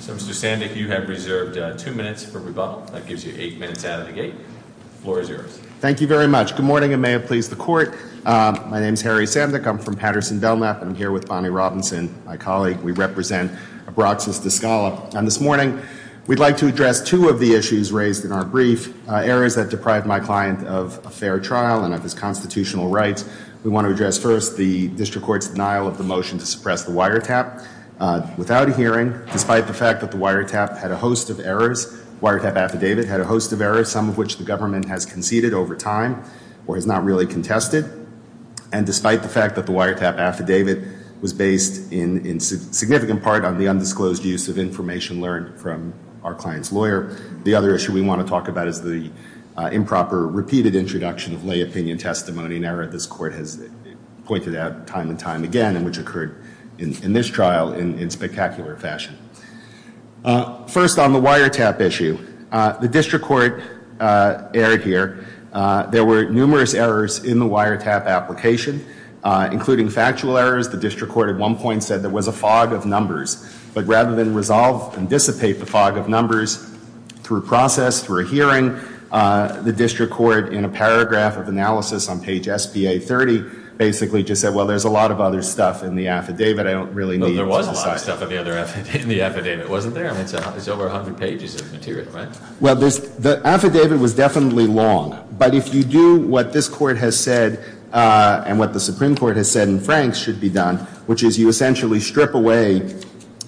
So Mr. Sandek, you have reserved two minutes for rebuttal. That gives you eight minutes out of the gate. The floor is yours. Thank you very much. Good morning and may it please the court. My name is Harry Sandek. I'm from Patterson Belknap and I'm here with Bonnie Robinson, my colleague. We represent Abraxas De Scala. And this morning, we'd like to address two of the issues raised in our brief. Errors that deprive my client of a fair trial and of his constitutional rights. We want to address first the district court's denial of the motion to suppress the wiretap without a hearing. Despite the fact that the wiretap had a host of errors, wiretap affidavit had a host of errors, some of which the government has conceded over time or has not really contested. And despite the fact that the wiretap affidavit was based in significant part on the undisclosed use of information learned from our client's lawyer. The other issue we want to talk about is the improper repeated introduction of lay opinion testimony. An error this court has pointed out time and time again, and which occurred in this trial in spectacular fashion. First on the wiretap issue, the district court erred here. There were numerous errors in the wiretap application, including factual errors. The district court at one point said there was a fog of numbers. But rather than resolve and dissipate the fog of numbers through process, through a hearing, the district court in a paragraph of analysis on page SBA 30 basically just said, well, there's a lot of other stuff in the affidavit. I don't really need it. There wasn't a lot of stuff in the affidavit, wasn't there? I mean, it's over 100 pages of material, right? Well, the affidavit was definitely long. But if you do what this court has said and what the Supreme Court has said in Franks should be done, which is you essentially strip away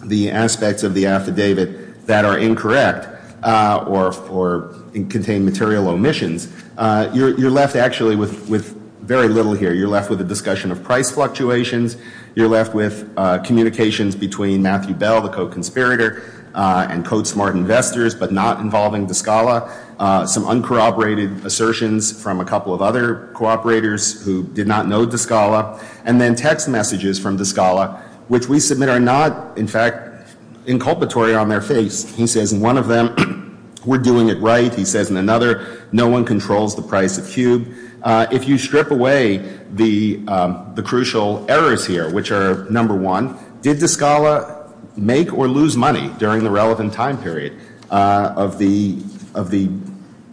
the aspects of the affidavit that are incorrect or contain material omissions, you're left actually with very little here. You're left with a discussion of price fluctuations. You're left with communications between Matthew Bell, the co-conspirator, and CodeSmart investors, but not involving De Scala. Some uncorroborated assertions from a couple of other cooperators who did not know De Scala. And then text messages from De Scala, which we submit are not, in fact, inculpatory on their face. He says in one of them, we're doing it right. He says in another, no one controls the price of cube. If you strip away the crucial errors here, which are, number one, did De Scala make or lose money during the relevant time period of the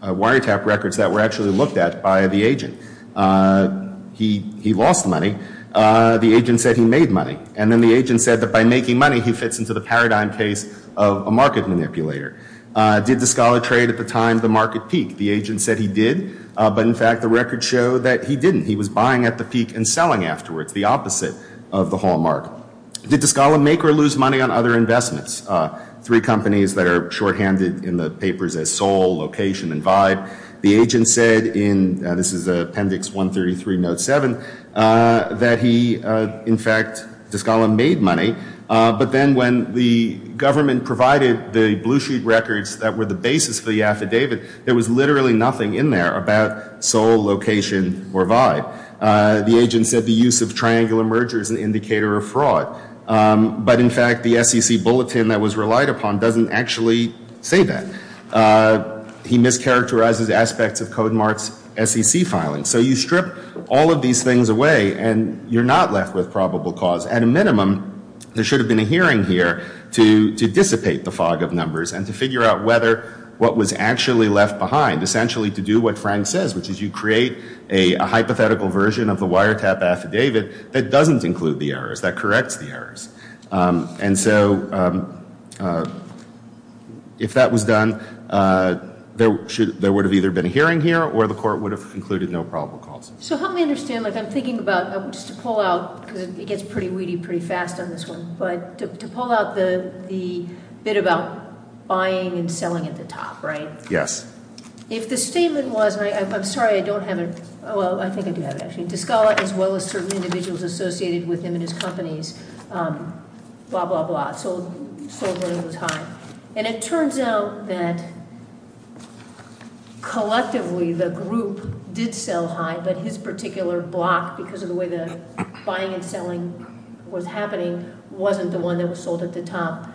wiretap records that were actually looked at by the agent? He lost money. The agent said he made money. And then the agent said that by making money, he fits into the paradigm case of a market manipulator. Did De Scala trade at the time the market peaked? The agent said he did. But, in fact, the records show that he didn't. He was buying at the peak and selling afterwards, the opposite of the hallmark. Did De Scala make or lose money on other investments? Three companies that are shorthanded in the papers as Sol, Location, and Vibe. The agent said in, this is Appendix 133, Note 7, that he, in fact, De Scala made money. But then when the government provided the blue sheet records that were the basis for the affidavit, there was literally nothing in there about Sol, Location, or Vibe. The agent said the use of triangular merger is an indicator of fraud. But, in fact, the SEC bulletin that was relied upon doesn't actually say that. He mischaracterizes aspects of CodeMart's SEC filing. So you strip all of these things away, and you're not left with probable cause. At a minimum, there should have been a hearing here to dissipate the fog of numbers and to figure out whether what was actually left behind, essentially to do what Frank says, which is you create a hypothetical version of the wiretap affidavit that doesn't include the errors, that corrects the errors. And so if that was done, there would have either been a hearing here, or the court would have concluded no probable cause. So help me understand. Like, I'm thinking about, just to pull out, because it gets pretty weedy pretty fast on this one, but to pull out the bit about buying and selling at the top, right? Yes. If the statement was, and I'm sorry, I don't have it. Well, I think I do have it, actually. De Scala, as well as certain individuals associated with him and his companies, blah, blah, blah, sold when he was high. And it turns out that collectively the group did sell high, but his particular block, because of the way the buying and selling was happening, wasn't the one that was sold at the top.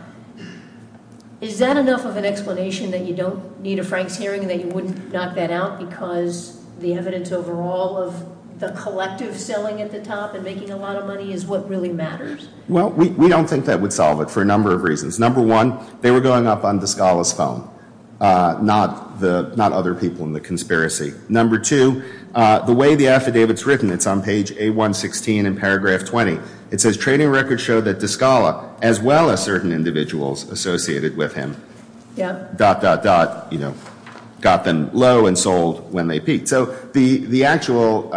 Is that enough of an explanation that you don't need a Franks hearing and that you wouldn't knock that out because the evidence overall of the collective selling at the top and making a lot of money is what really matters? Well, we don't think that would solve it for a number of reasons. Number one, they were going up on De Scala's phone, not other people in the conspiracy. Number two, the way the affidavit's written, it's on page A116 in paragraph 20. It says, Trading records show that De Scala, as well as certain individuals associated with him, dot, dot, dot, got them low and sold when they peaked. So the actual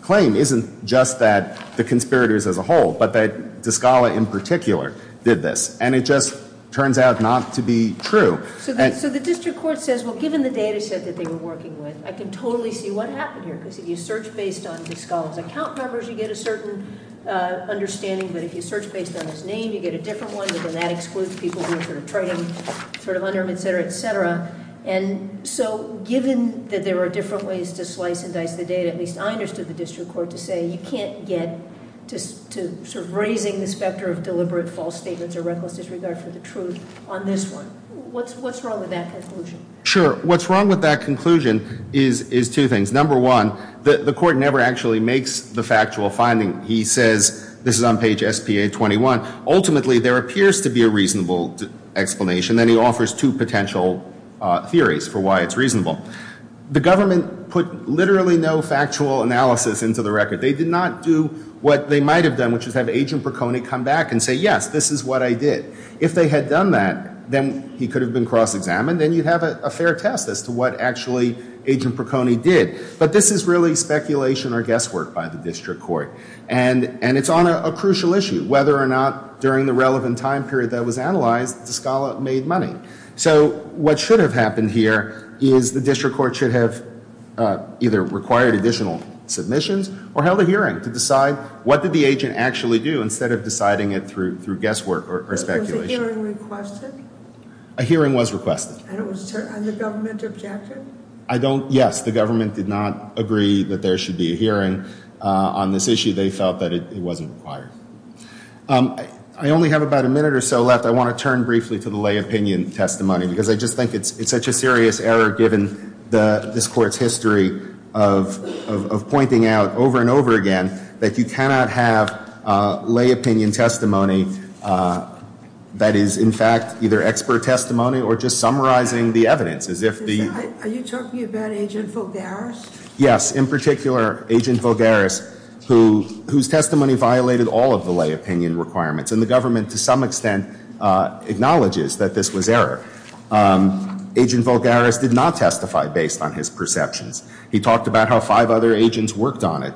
claim isn't just that the conspirators as a whole, but that De Scala in particular did this. And it just turns out not to be true. So the district court says, well, given the data set that they were working with, I can totally see what happened here. Because if you search based on De Scala's account numbers, you get a certain understanding. But if you search based on his name, you get a different one. But then that excludes people who were trading under him, et cetera, et cetera. And so given that there are different ways to slice and dice the data, at least I understood the district court to say you can't get to raising the specter of deliberate false statements or reckless disregard for the truth on this one. What's wrong with that conclusion? Sure. What's wrong with that conclusion is two things. Number one, the court never actually makes the factual finding. He says, this is on page SPA21, ultimately there appears to be a reasonable explanation. Then he offers two potential theories for why it's reasonable. The government put literally no factual analysis into the record. They did not do what they might have done, which is have Agent Perconi come back and say, yes, this is what I did. If they had done that, then he could have been cross-examined, and you'd have a fair test as to what actually Agent Perconi did. But this is really speculation or guesswork by the district court. And it's on a crucial issue. Whether or not during the relevant time period that was analyzed, De Scala made money. So what should have happened here is the district court should have either required additional submissions or held a hearing to decide what did the agent actually do instead of deciding it through guesswork or speculation. Was a hearing requested? A hearing was requested. And it was on the government's objective? Yes, the government did not agree that there should be a hearing on this issue. They felt that it wasn't required. I only have about a minute or so left. I want to turn briefly to the lay opinion testimony, because I just think it's such a serious error, given this court's history of pointing out over and over again that you cannot have lay opinion testimony that is, in fact, either expert testimony or just summarizing the evidence. Are you talking about Agent Vogaris? Yes, in particular, Agent Vogaris, whose testimony violated all of the lay opinion requirements. And the government, to some extent, acknowledges that this was error. Agent Vogaris did not testify based on his perceptions. He talked about how five other agents worked on it,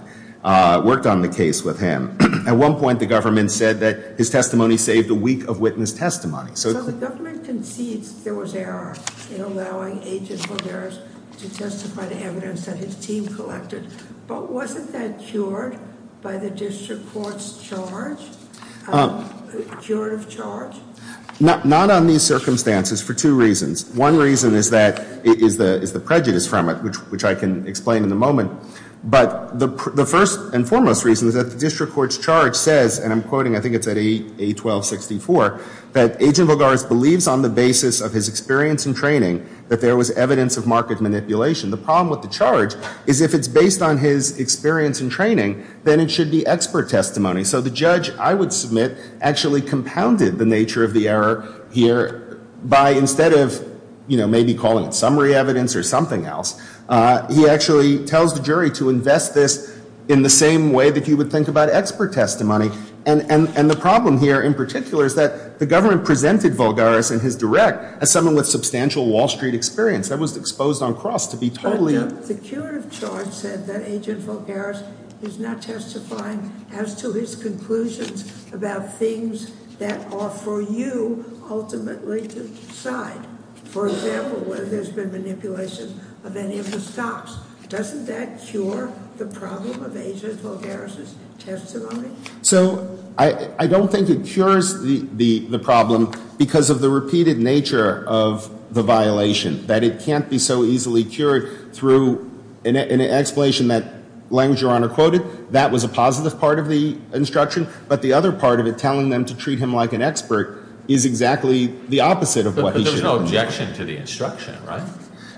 worked on the case with him. At one point, the government said that his testimony saved a week of witness testimony. So the government concedes there was error in allowing Agent Vogaris to testify to evidence that his team collected. But wasn't that cured by the district court's charge? Cured of charge? Not on these circumstances for two reasons. One reason is the prejudice from it, which I can explain in a moment. But the first and foremost reason is that the district court's charge says, and I'm quoting, I think it's at A1264, that Agent Vogaris believes on the basis of his experience and training that there was evidence of market manipulation. The problem with the charge is if it's based on his experience and training, then it should be expert testimony. So the judge, I would submit, actually compounded the nature of the error here by, instead of maybe calling it summary evidence or something else, he actually tells the jury to invest this in the same way that he would think about expert testimony. And the problem here, in particular, is that the government presented Vogaris and his direct as someone with substantial Wall Street experience. I was exposed on cross to be totally- But the cure of charge said that Agent Vogaris is not testifying as to his conclusions about things that are for you ultimately to decide. For example, whether there's been manipulation of any of the stocks. Doesn't that cure the problem of Agent Vogaris's testimony? So I don't think it cures the problem because of the repeated nature of the violation, that it can't be so easily cured through an explanation that language Your Honor quoted. That was a positive part of the instruction. But the other part of it, telling them to treat him like an expert, is exactly the opposite of what he should have done. But there was no objection to the instruction, right?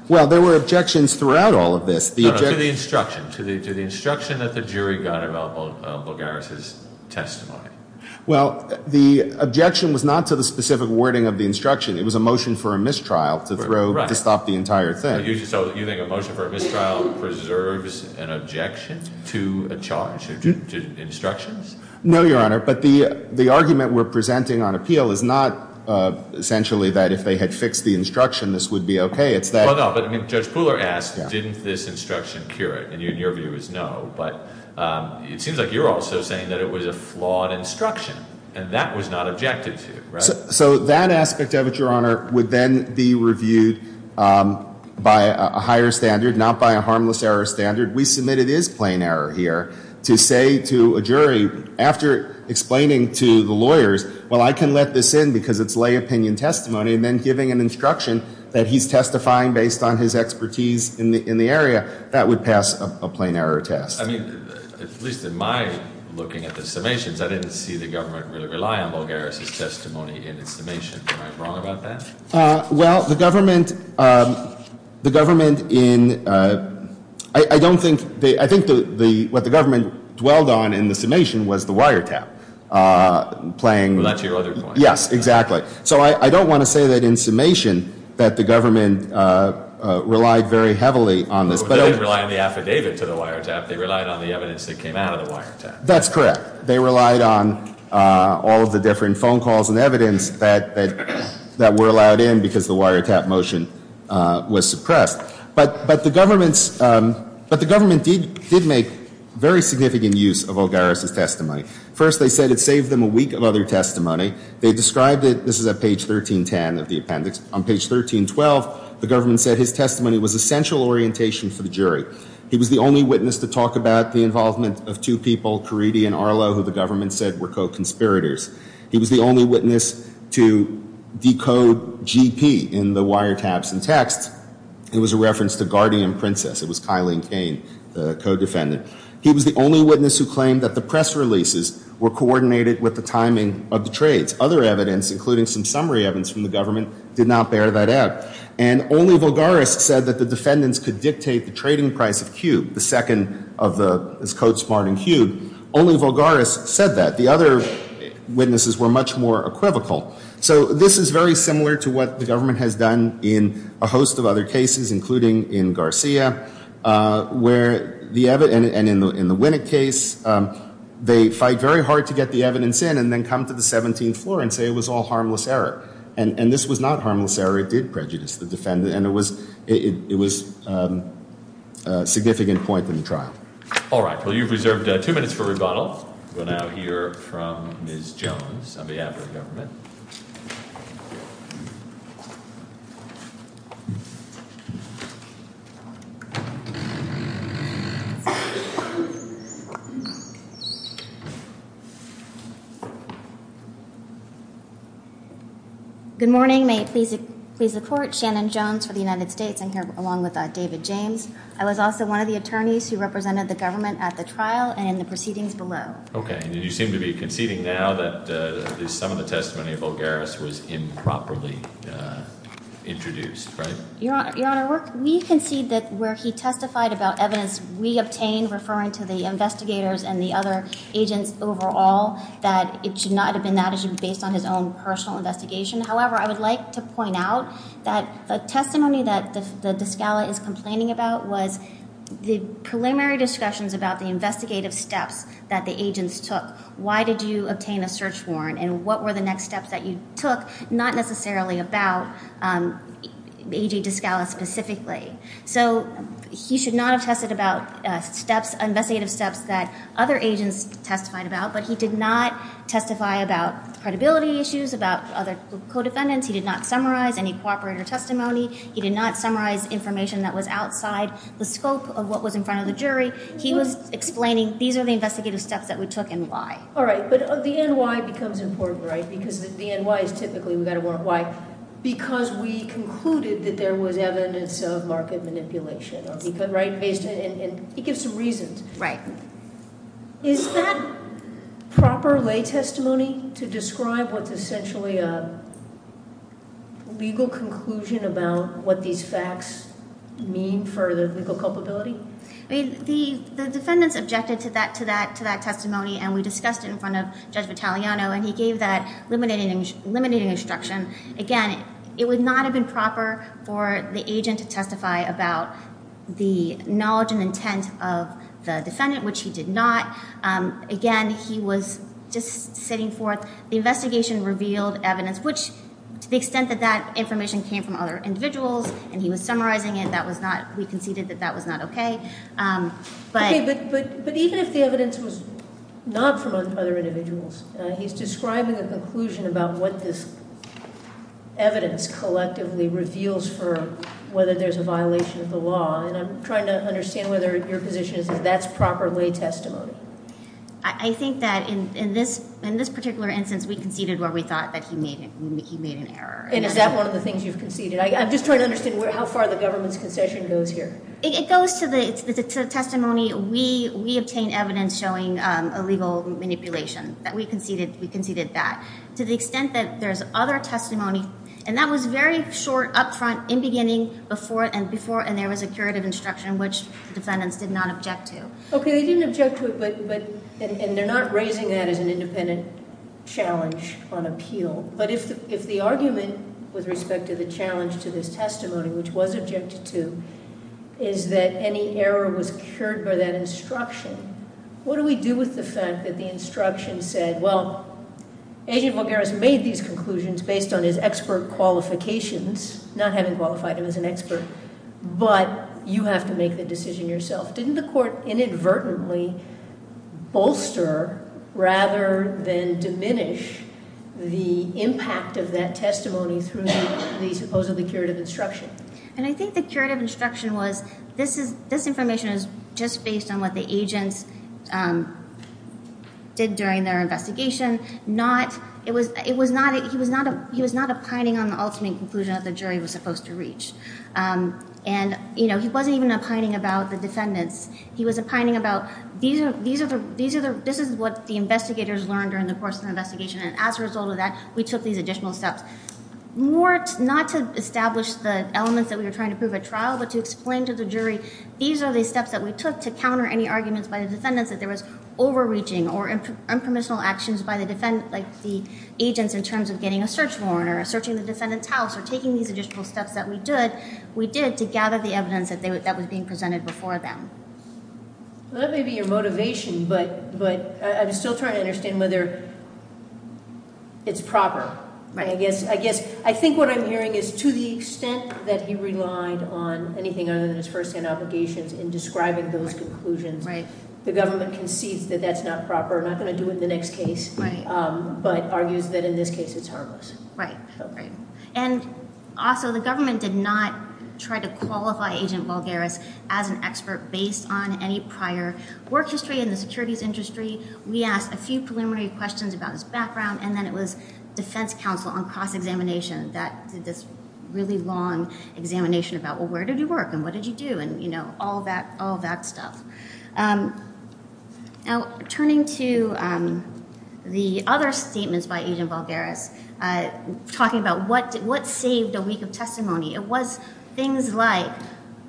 Well, there were objections throughout all of this. To the instruction, to the instruction that the jury got about Vogaris's testimony. Well, the objection was not to the specific wording of the instruction. It was a motion for a mistrial to stop the entire thing. So you think a motion for a mistrial preserves an objection to a charge, to instructions? No, Your Honor. But the argument we're presenting on appeal is not essentially that if they had fixed the instruction, this would be okay. Well, no, but Judge Pooler asked, didn't this instruction cure it? And your view is no. But it seems like you're also saying that it was a flawed instruction. And that was not objected to, right? So that aspect of it, Your Honor, would then be reviewed by a higher standard, not by a harmless error standard. We submitted his plain error here to say to a jury, after explaining to the lawyers, well, I can let this in because it's lay opinion testimony. And then giving an instruction that he's testifying based on his expertise in the area, that would pass a plain error test. I mean, at least in my looking at the summations, I didn't see the government really rely on Vogaris's testimony in its summation. Am I wrong about that? Well, the government, the government in, I don't think, I think what the government dwelled on in the summation was the wiretap playing. Well, that's your other point. Yes, exactly. So I don't want to say that in summation that the government relied very heavily on this. They didn't rely on the affidavit to the wiretap. They relied on the evidence that came out of the wiretap. That's correct. They relied on all of the different phone calls and evidence that were allowed in because the wiretap motion was suppressed. But the government did make very significant use of Vogaris's testimony. First, they said it saved them a week of other testimony. They described it, this is at page 1310 of the appendix. On page 1312, the government said his testimony was essential orientation for the jury. He was the only witness to talk about the involvement of two people, Caridi and Arlo, who the government said were co-conspirators. He was the only witness to decode GP in the wiretaps and text. It was a reference to Guardian Princess. It was Kylene Kane, the co-defendant. He was the only witness who claimed that the press releases were coordinated with the timing of the trades. Other evidence, including some summary evidence from the government, did not bear that out. And only Vogaris said that the defendants could dictate the trading price of Q, the second of the code sparring Q. Only Vogaris said that. The other witnesses were much more equivocal. So this is very similar to what the government has done in a host of other cases, including in Garcia. And in the Winnick case, they fight very hard to get the evidence in and then come to the 17th floor and say it was all harmless error. And this was not harmless error. It did prejudice the defendant, and it was a significant point in the trial. All right. Well, you've reserved two minutes for rebuttal. We'll now hear from Ms. Jones on behalf of the government. Good morning. May it please the court. Shannon Jones for the United States. I'm here along with David James. I was also one of the attorneys who represented the government at the trial and in the proceedings below. Okay. And you seem to be conceding now that some of the testimony of Vogaris was improperly introduced, right? Your Honor, we concede that where he testified about evidence we obtained referring to the investigators and the other agents overall, that it should not have been that. It should have been based on his own personal investigation. However, I would like to point out that the testimony that De Scala is complaining about was the preliminary discussions about the investigative steps that the agents took. Why did you obtain a search warrant, and what were the next steps that you took? Not necessarily about A.J. De Scala specifically. So he should not have tested about steps, investigative steps that other agents testified about, but he did not testify about credibility issues, about other co-defendants. He did not summarize any cooperator testimony. He did not summarize information that was outside the scope of what was in front of the jury. He was explaining these are the investigative steps that we took and why. All right. But the end why becomes important, right? Because the end why is typically we got a warrant why. Because we concluded that there was evidence of market manipulation. Right? And he gives some reasons. Right. Is that proper lay testimony to describe what's essentially a legal conclusion about what these facts mean for the legal culpability? The defendants objected to that testimony, and we discussed it in front of Judge Vitaliano, and he gave that limiting instruction. Again, it would not have been proper for the agent to testify about the knowledge and intent of the defendant, which he did not. Again, he was just sitting forth. The investigation revealed evidence, which to the extent that that information came from other individuals, and he was summarizing it, we conceded that that was not okay. But even if the evidence was not from other individuals, he's describing a conclusion about what this evidence collectively reveals for whether there's a violation of the law. And I'm trying to understand whether your position is that that's proper lay testimony. I think that in this particular instance, we conceded where we thought that he made an error. And is that one of the things you've conceded? I'm just trying to understand how far the government's concession goes here. It goes to the testimony. We obtained evidence showing illegal manipulation. We conceded that. To the extent that there's other testimony, and that was very short, up front, in beginning, before, and before, and there was a curative instruction, which the defendants did not object to. Okay, they didn't object to it, and they're not raising that as an independent challenge on appeal. But if the argument with respect to the challenge to this testimony, which was objected to, is that any error was cured by that instruction, what do we do with the fact that the instruction said, well, Agent Volgaris made these conclusions based on his expert qualifications, not having qualified him as an expert, but you have to make the decision yourself. Didn't the court inadvertently bolster rather than diminish the impact of that testimony through the supposedly curative instruction? I think the curative instruction was, this information is just based on what the agents did during their investigation. He was not opining on the ultimate conclusion that the jury was supposed to reach. He wasn't even opining about the defendants. He was opining about, this is what the investigators learned during the course of the investigation, and as a result of that, we took these additional steps. Not to establish the elements that we were trying to prove at trial, but to explain to the jury, these are the steps that we took to counter any arguments by the defendants, that there was overreaching or impermissible actions by the agents in terms of getting a search warrant or searching the defendant's house or taking these additional steps that we did to gather the evidence that was being presented before them. That may be your motivation, but I'm still trying to understand whether it's proper. I think what I'm hearing is, to the extent that he relied on anything other than his first-hand obligations in describing those conclusions, the government concedes that that's not proper, not going to do it in the next case, but argues that in this case, it's harmless. Also, the government did not try to qualify Agent Valgaris as an expert based on any prior work history in the securities industry. We asked a few preliminary questions about his background, and then it was defense counsel on cross-examination that did this really long examination about, well, where did you work, and what did you do, and all that stuff. Now, turning to the other statements by Agent Valgaris, talking about what saved a week of testimony, it was things like,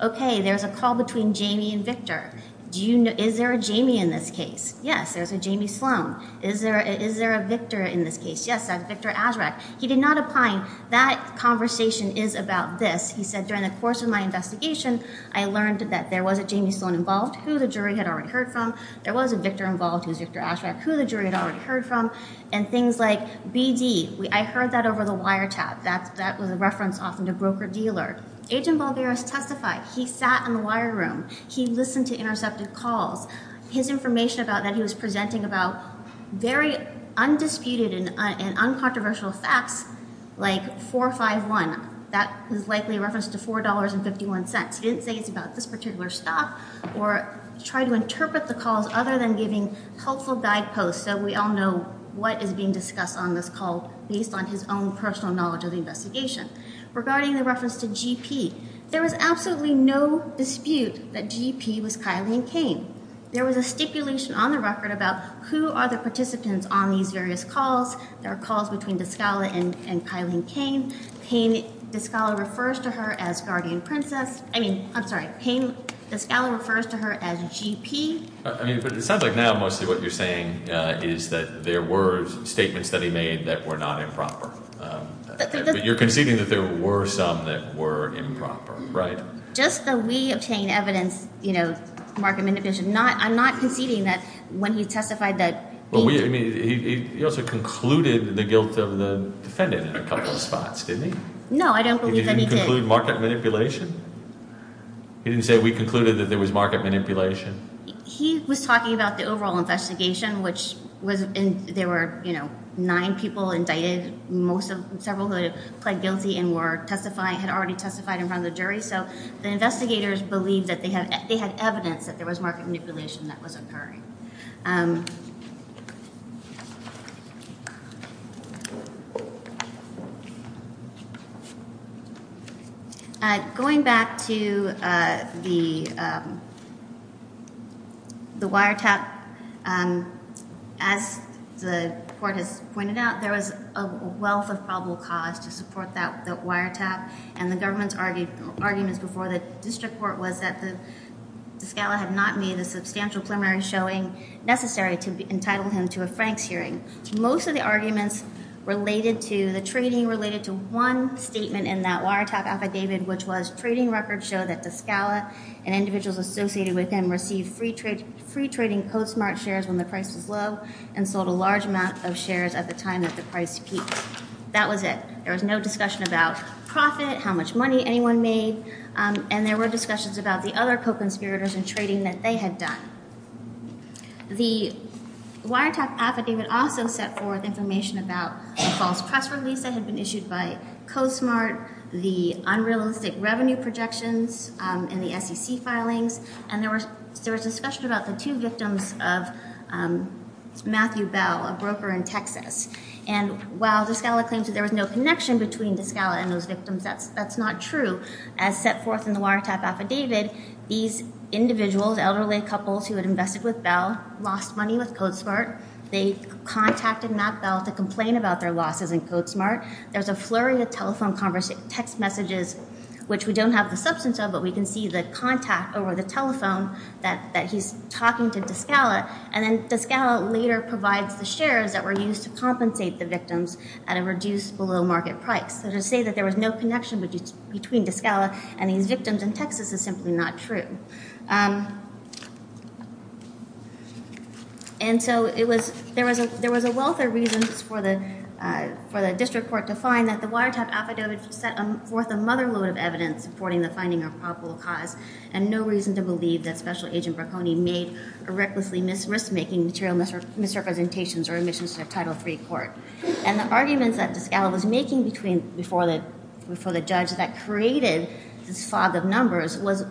okay, there's a call between Jamie and Victor. Is there a Jamie in this case? Yes, there's a Jamie Sloan. Is there a Victor in this case? Yes, that's Victor Azraq. He did not opine, that conversation is about this. He said, during the course of my investigation, I learned that there was a Jamie Sloan involved, who the jury had already heard from. There was a Victor involved, who's Victor Azraq, who the jury had already heard from, and things like BD, I heard that over the wiretap. That was a reference often to broker-dealer. Agent Valgaris testified. He sat in the wire room. He listened to intercepted calls. His information about that, he was presenting about very undisputed and uncontroversial facts, like 451. That is likely a reference to $4.51. He didn't say it's about this particular stuff, or try to interpret the calls, other than giving helpful guideposts, so we all know what is being discussed on this call, based on his own personal knowledge of the investigation. Regarding the reference to GP, there was absolutely no dispute that GP was Kyleen Kane. There was a stipulation on the record about who are the participants on these various calls. There are calls between Descala and Kyleen Kane. Kane Descala refers to her as guardian princess. I mean, I'm sorry, Kane Descala refers to her as GP. I mean, but it sounds like now, mostly what you're saying is that there were statements that he made that were not improper. But you're conceding that there were some that were improper, right? Just that we obtained evidence, you know, market manipulation. I'm not conceding that when he testified that he- Well, I mean, he also concluded the guilt of the defendant in a couple of spots, didn't he? No, I don't believe that he did. He didn't conclude market manipulation? He didn't say we concluded that there was market manipulation? He was talking about the overall investigation, which was- There were, you know, nine people indicted, most of- several who had pled guilty and were testifying- had already testified in front of the jury. So the investigators believed that they had evidence that there was market manipulation that was occurring. Going back to the wiretap, as the court has pointed out, there was a wealth of probable cause to support that wiretap. And the government's arguments before the district court was that the- De Scala had not made a substantial preliminary showing necessary to entitle him to a Franks hearing. Most of the arguments related to the trading related to one statement in that wiretap affidavit, which was trading records show that De Scala and individuals associated with him received free trading CoSmart shares when the price was low and sold a large amount of shares at the time that the price peaked. That was it. There was no discussion about profit, how much money anyone made, and there were discussions about the other co-conspirators and trading that they had done. The wiretap affidavit also set forth information about a false press release that had been issued by CoSmart, the unrealistic revenue projections, and the SEC filings, and there was discussion about the two victims of Matthew Bell, a broker in Texas. And while De Scala claims that there was no connection between De Scala and those victims, that's not true. As set forth in the wiretap affidavit, these individuals, elderly couples who had invested with Bell, lost money with CoSmart. They contacted Matt Bell to complain about their losses in CoSmart. There's a flurry of telephone conversations, text messages, which we don't have the substance of, but we can see the contact over the telephone that he's talking to De Scala. And then De Scala later provides the shares that were used to compensate the victims at a reduced below market price. So to say that there was no connection between De Scala and these victims in Texas is simply not true. And so there was a wealth of reasons for the district court to find that the wiretap affidavit set forth a motherload of evidence supporting the finding of probable cause and no reason to believe that Special Agent Bracconi made a recklessly risk-making material misrepresentations or omissions to a Title III court. And the arguments that De Scala was making before the judge that created this fog of numbers was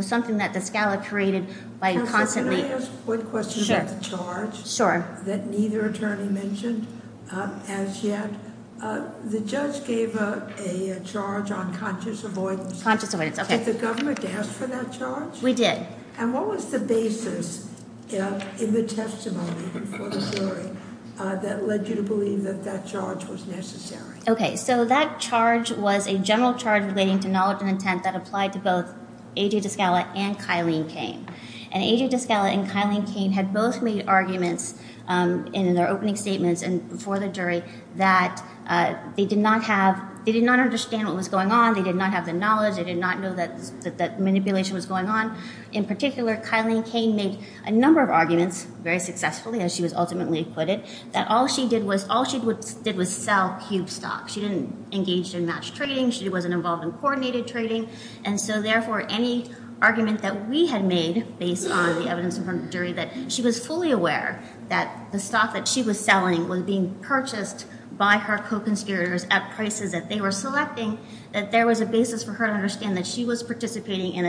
something that De Scala created by constantly- Can I ask one question about the charge? Sure. That neither attorney mentioned as yet. The judge gave a charge on conscious avoidance. Conscious avoidance, okay. Did the government ask for that charge? We did. And what was the basis in the testimony before the jury that led you to believe that that charge was necessary? Okay, so that charge was a general charge relating to knowledge and intent that applied to both A.J. De Scala and Kyleen Kane. And A.J. De Scala and Kyleen Kane had both made arguments in their opening statements before the jury that they did not understand what was going on, they did not have the knowledge, they did not know that manipulation was going on. In particular, Kyleen Kane made a number of arguments very successfully, as she was ultimately acquitted, that all she did was sell cube stock. She didn't engage in matched trading. She wasn't involved in coordinated trading. And so, therefore, any argument that we had made based on the evidence from her jury that she was fully aware that the stock that she was selling was being purchased by her co-conspirators at prices that they were selecting, that there was a basis for her to understand that she was participating in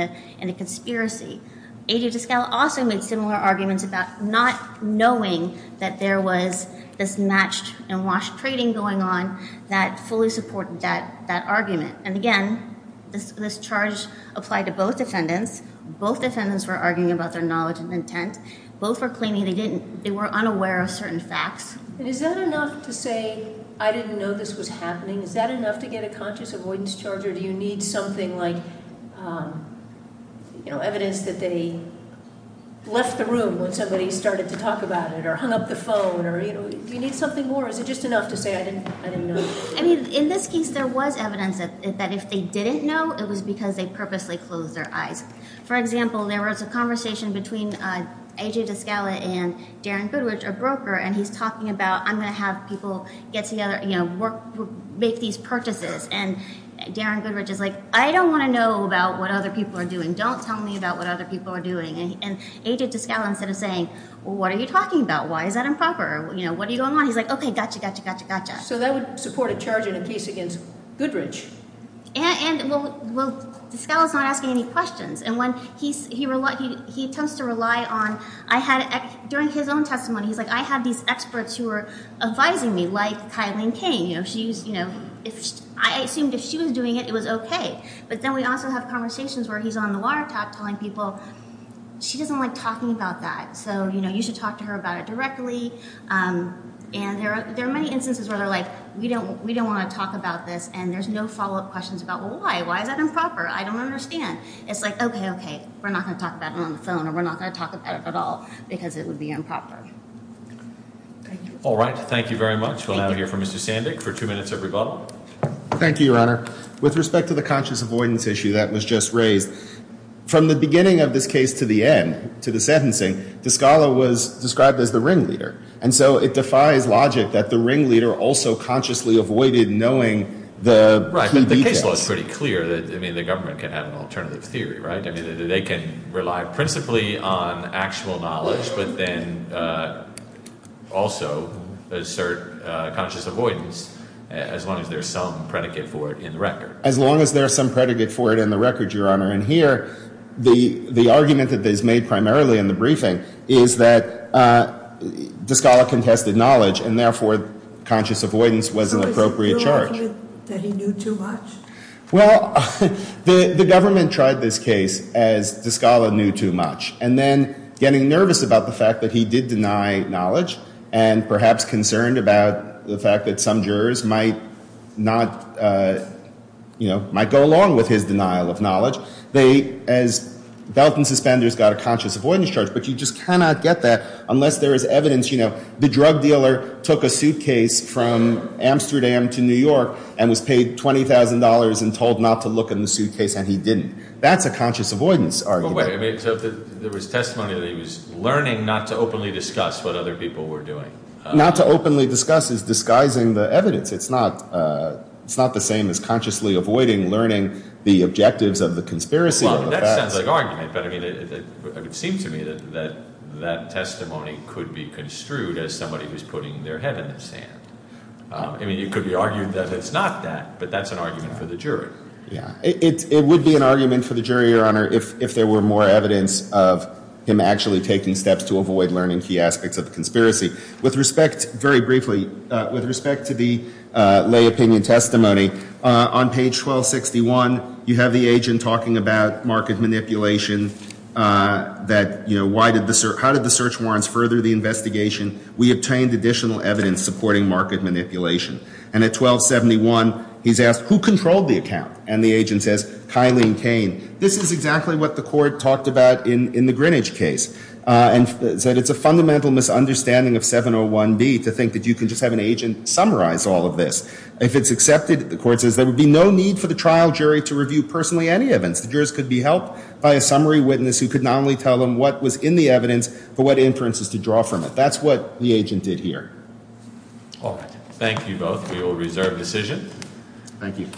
a conspiracy. A.J. De Scala also made similar arguments about not knowing that there was this matched and washed trading going on that fully supported that argument. And, again, this charge applied to both defendants. Both defendants were arguing about their knowledge and intent. Both were claiming they were unaware of certain facts. And is that enough to say, I didn't know this was happening? Is that enough to get a conscious avoidance charge? Or do you need something like, you know, evidence that they left the room when somebody started to talk about it or hung up the phone or, you know, do you need something more? Or is it just enough to say, I didn't know this was going on? I mean, in this case, there was evidence that if they didn't know, it was because they purposely closed their eyes. For example, there was a conversation between A.J. De Scala and Darren Goodrich, a broker, and he's talking about, I'm going to have people get together, you know, make these purchases. And Darren Goodrich is like, I don't want to know about what other people are doing. Don't tell me about what other people are doing. And A.J. De Scala, instead of saying, well, what are you talking about? Why is that improper? You know, what are you going on? He's like, okay, gotcha, gotcha, gotcha, gotcha. So that would support a charge in a case against Goodrich. And, well, De Scala's not asking any questions. And when he attempts to rely on, I had, during his own testimony, he's like, I had these experts who were advising me, like Kylene King. You know, she was, you know, I assumed if she was doing it, it was okay. But then we also have conversations where he's on the water top telling people, she doesn't like talking about that. So, you know, you should talk to her about it directly. And there are many instances where they're like, we don't want to talk about this. And there's no follow-up questions about, well, why? Why is that improper? I don't understand. It's like, okay, okay, we're not going to talk about it on the phone or we're not going to talk about it at all because it would be improper. Thank you. All right. Thank you very much. We'll now hear from Mr. Sandick for two minutes of rebuttal. Thank you, Your Honor. With respect to the conscious avoidance issue that was just raised, from the beginning of this case to the end, to the sentencing, De Scala was described as the ringleader. And so it defies logic that the ringleader also consciously avoided knowing the key details. Well, it's pretty clear that, I mean, the government can have an alternative theory, right? I mean, they can rely principally on actual knowledge but then also assert conscious avoidance as long as there's some predicate for it in the record. As long as there's some predicate for it in the record, Your Honor. And here the argument that is made primarily in the briefing is that De Scala contested knowledge and therefore conscious avoidance was an appropriate charge. So you're arguing that he knew too much? Well, the government tried this case as De Scala knew too much. And then getting nervous about the fact that he did deny knowledge and perhaps concerned about the fact that some jurors might not, you know, might go along with his denial of knowledge, they, as belt and suspenders, got a conscious avoidance charge. But you just cannot get that unless there is evidence, you know, the drug dealer took a suitcase from Amsterdam to New York and was paid $20,000 and told not to look in the suitcase and he didn't. That's a conscious avoidance argument. Wait a minute. So there was testimony that he was learning not to openly discuss what other people were doing. Not to openly discuss is disguising the evidence. It's not the same as consciously avoiding learning the objectives of the conspiracy. Well, that sounds like argument. But, I mean, it would seem to me that that testimony could be construed as somebody who's putting their head in the sand. I mean, it could be argued that it's not that, but that's an argument for the jury. Yeah. It would be an argument for the jury, Your Honor, if there were more evidence of him actually taking steps to avoid learning key aspects of the conspiracy. With respect, very briefly, with respect to the lay opinion testimony, on page 1261, you have the agent talking about market manipulation, that, you know, how did the search warrants further the investigation? We obtained additional evidence supporting market manipulation. And at 1271, he's asked, who controlled the account? And the agent says, Kylene Kane. This is exactly what the court talked about in the Greenwich case, and said it's a fundamental misunderstanding of 701B to think that you can just have an agent summarize all of this. If it's accepted, the court says, there would be no need for the trial jury to review personally any evidence. The jurors could be helped by a summary witness who could not only tell them what was in the evidence, but what inferences to draw from it. That's what the agent did here. All right. Thank you both. We will reserve decision. Thank you.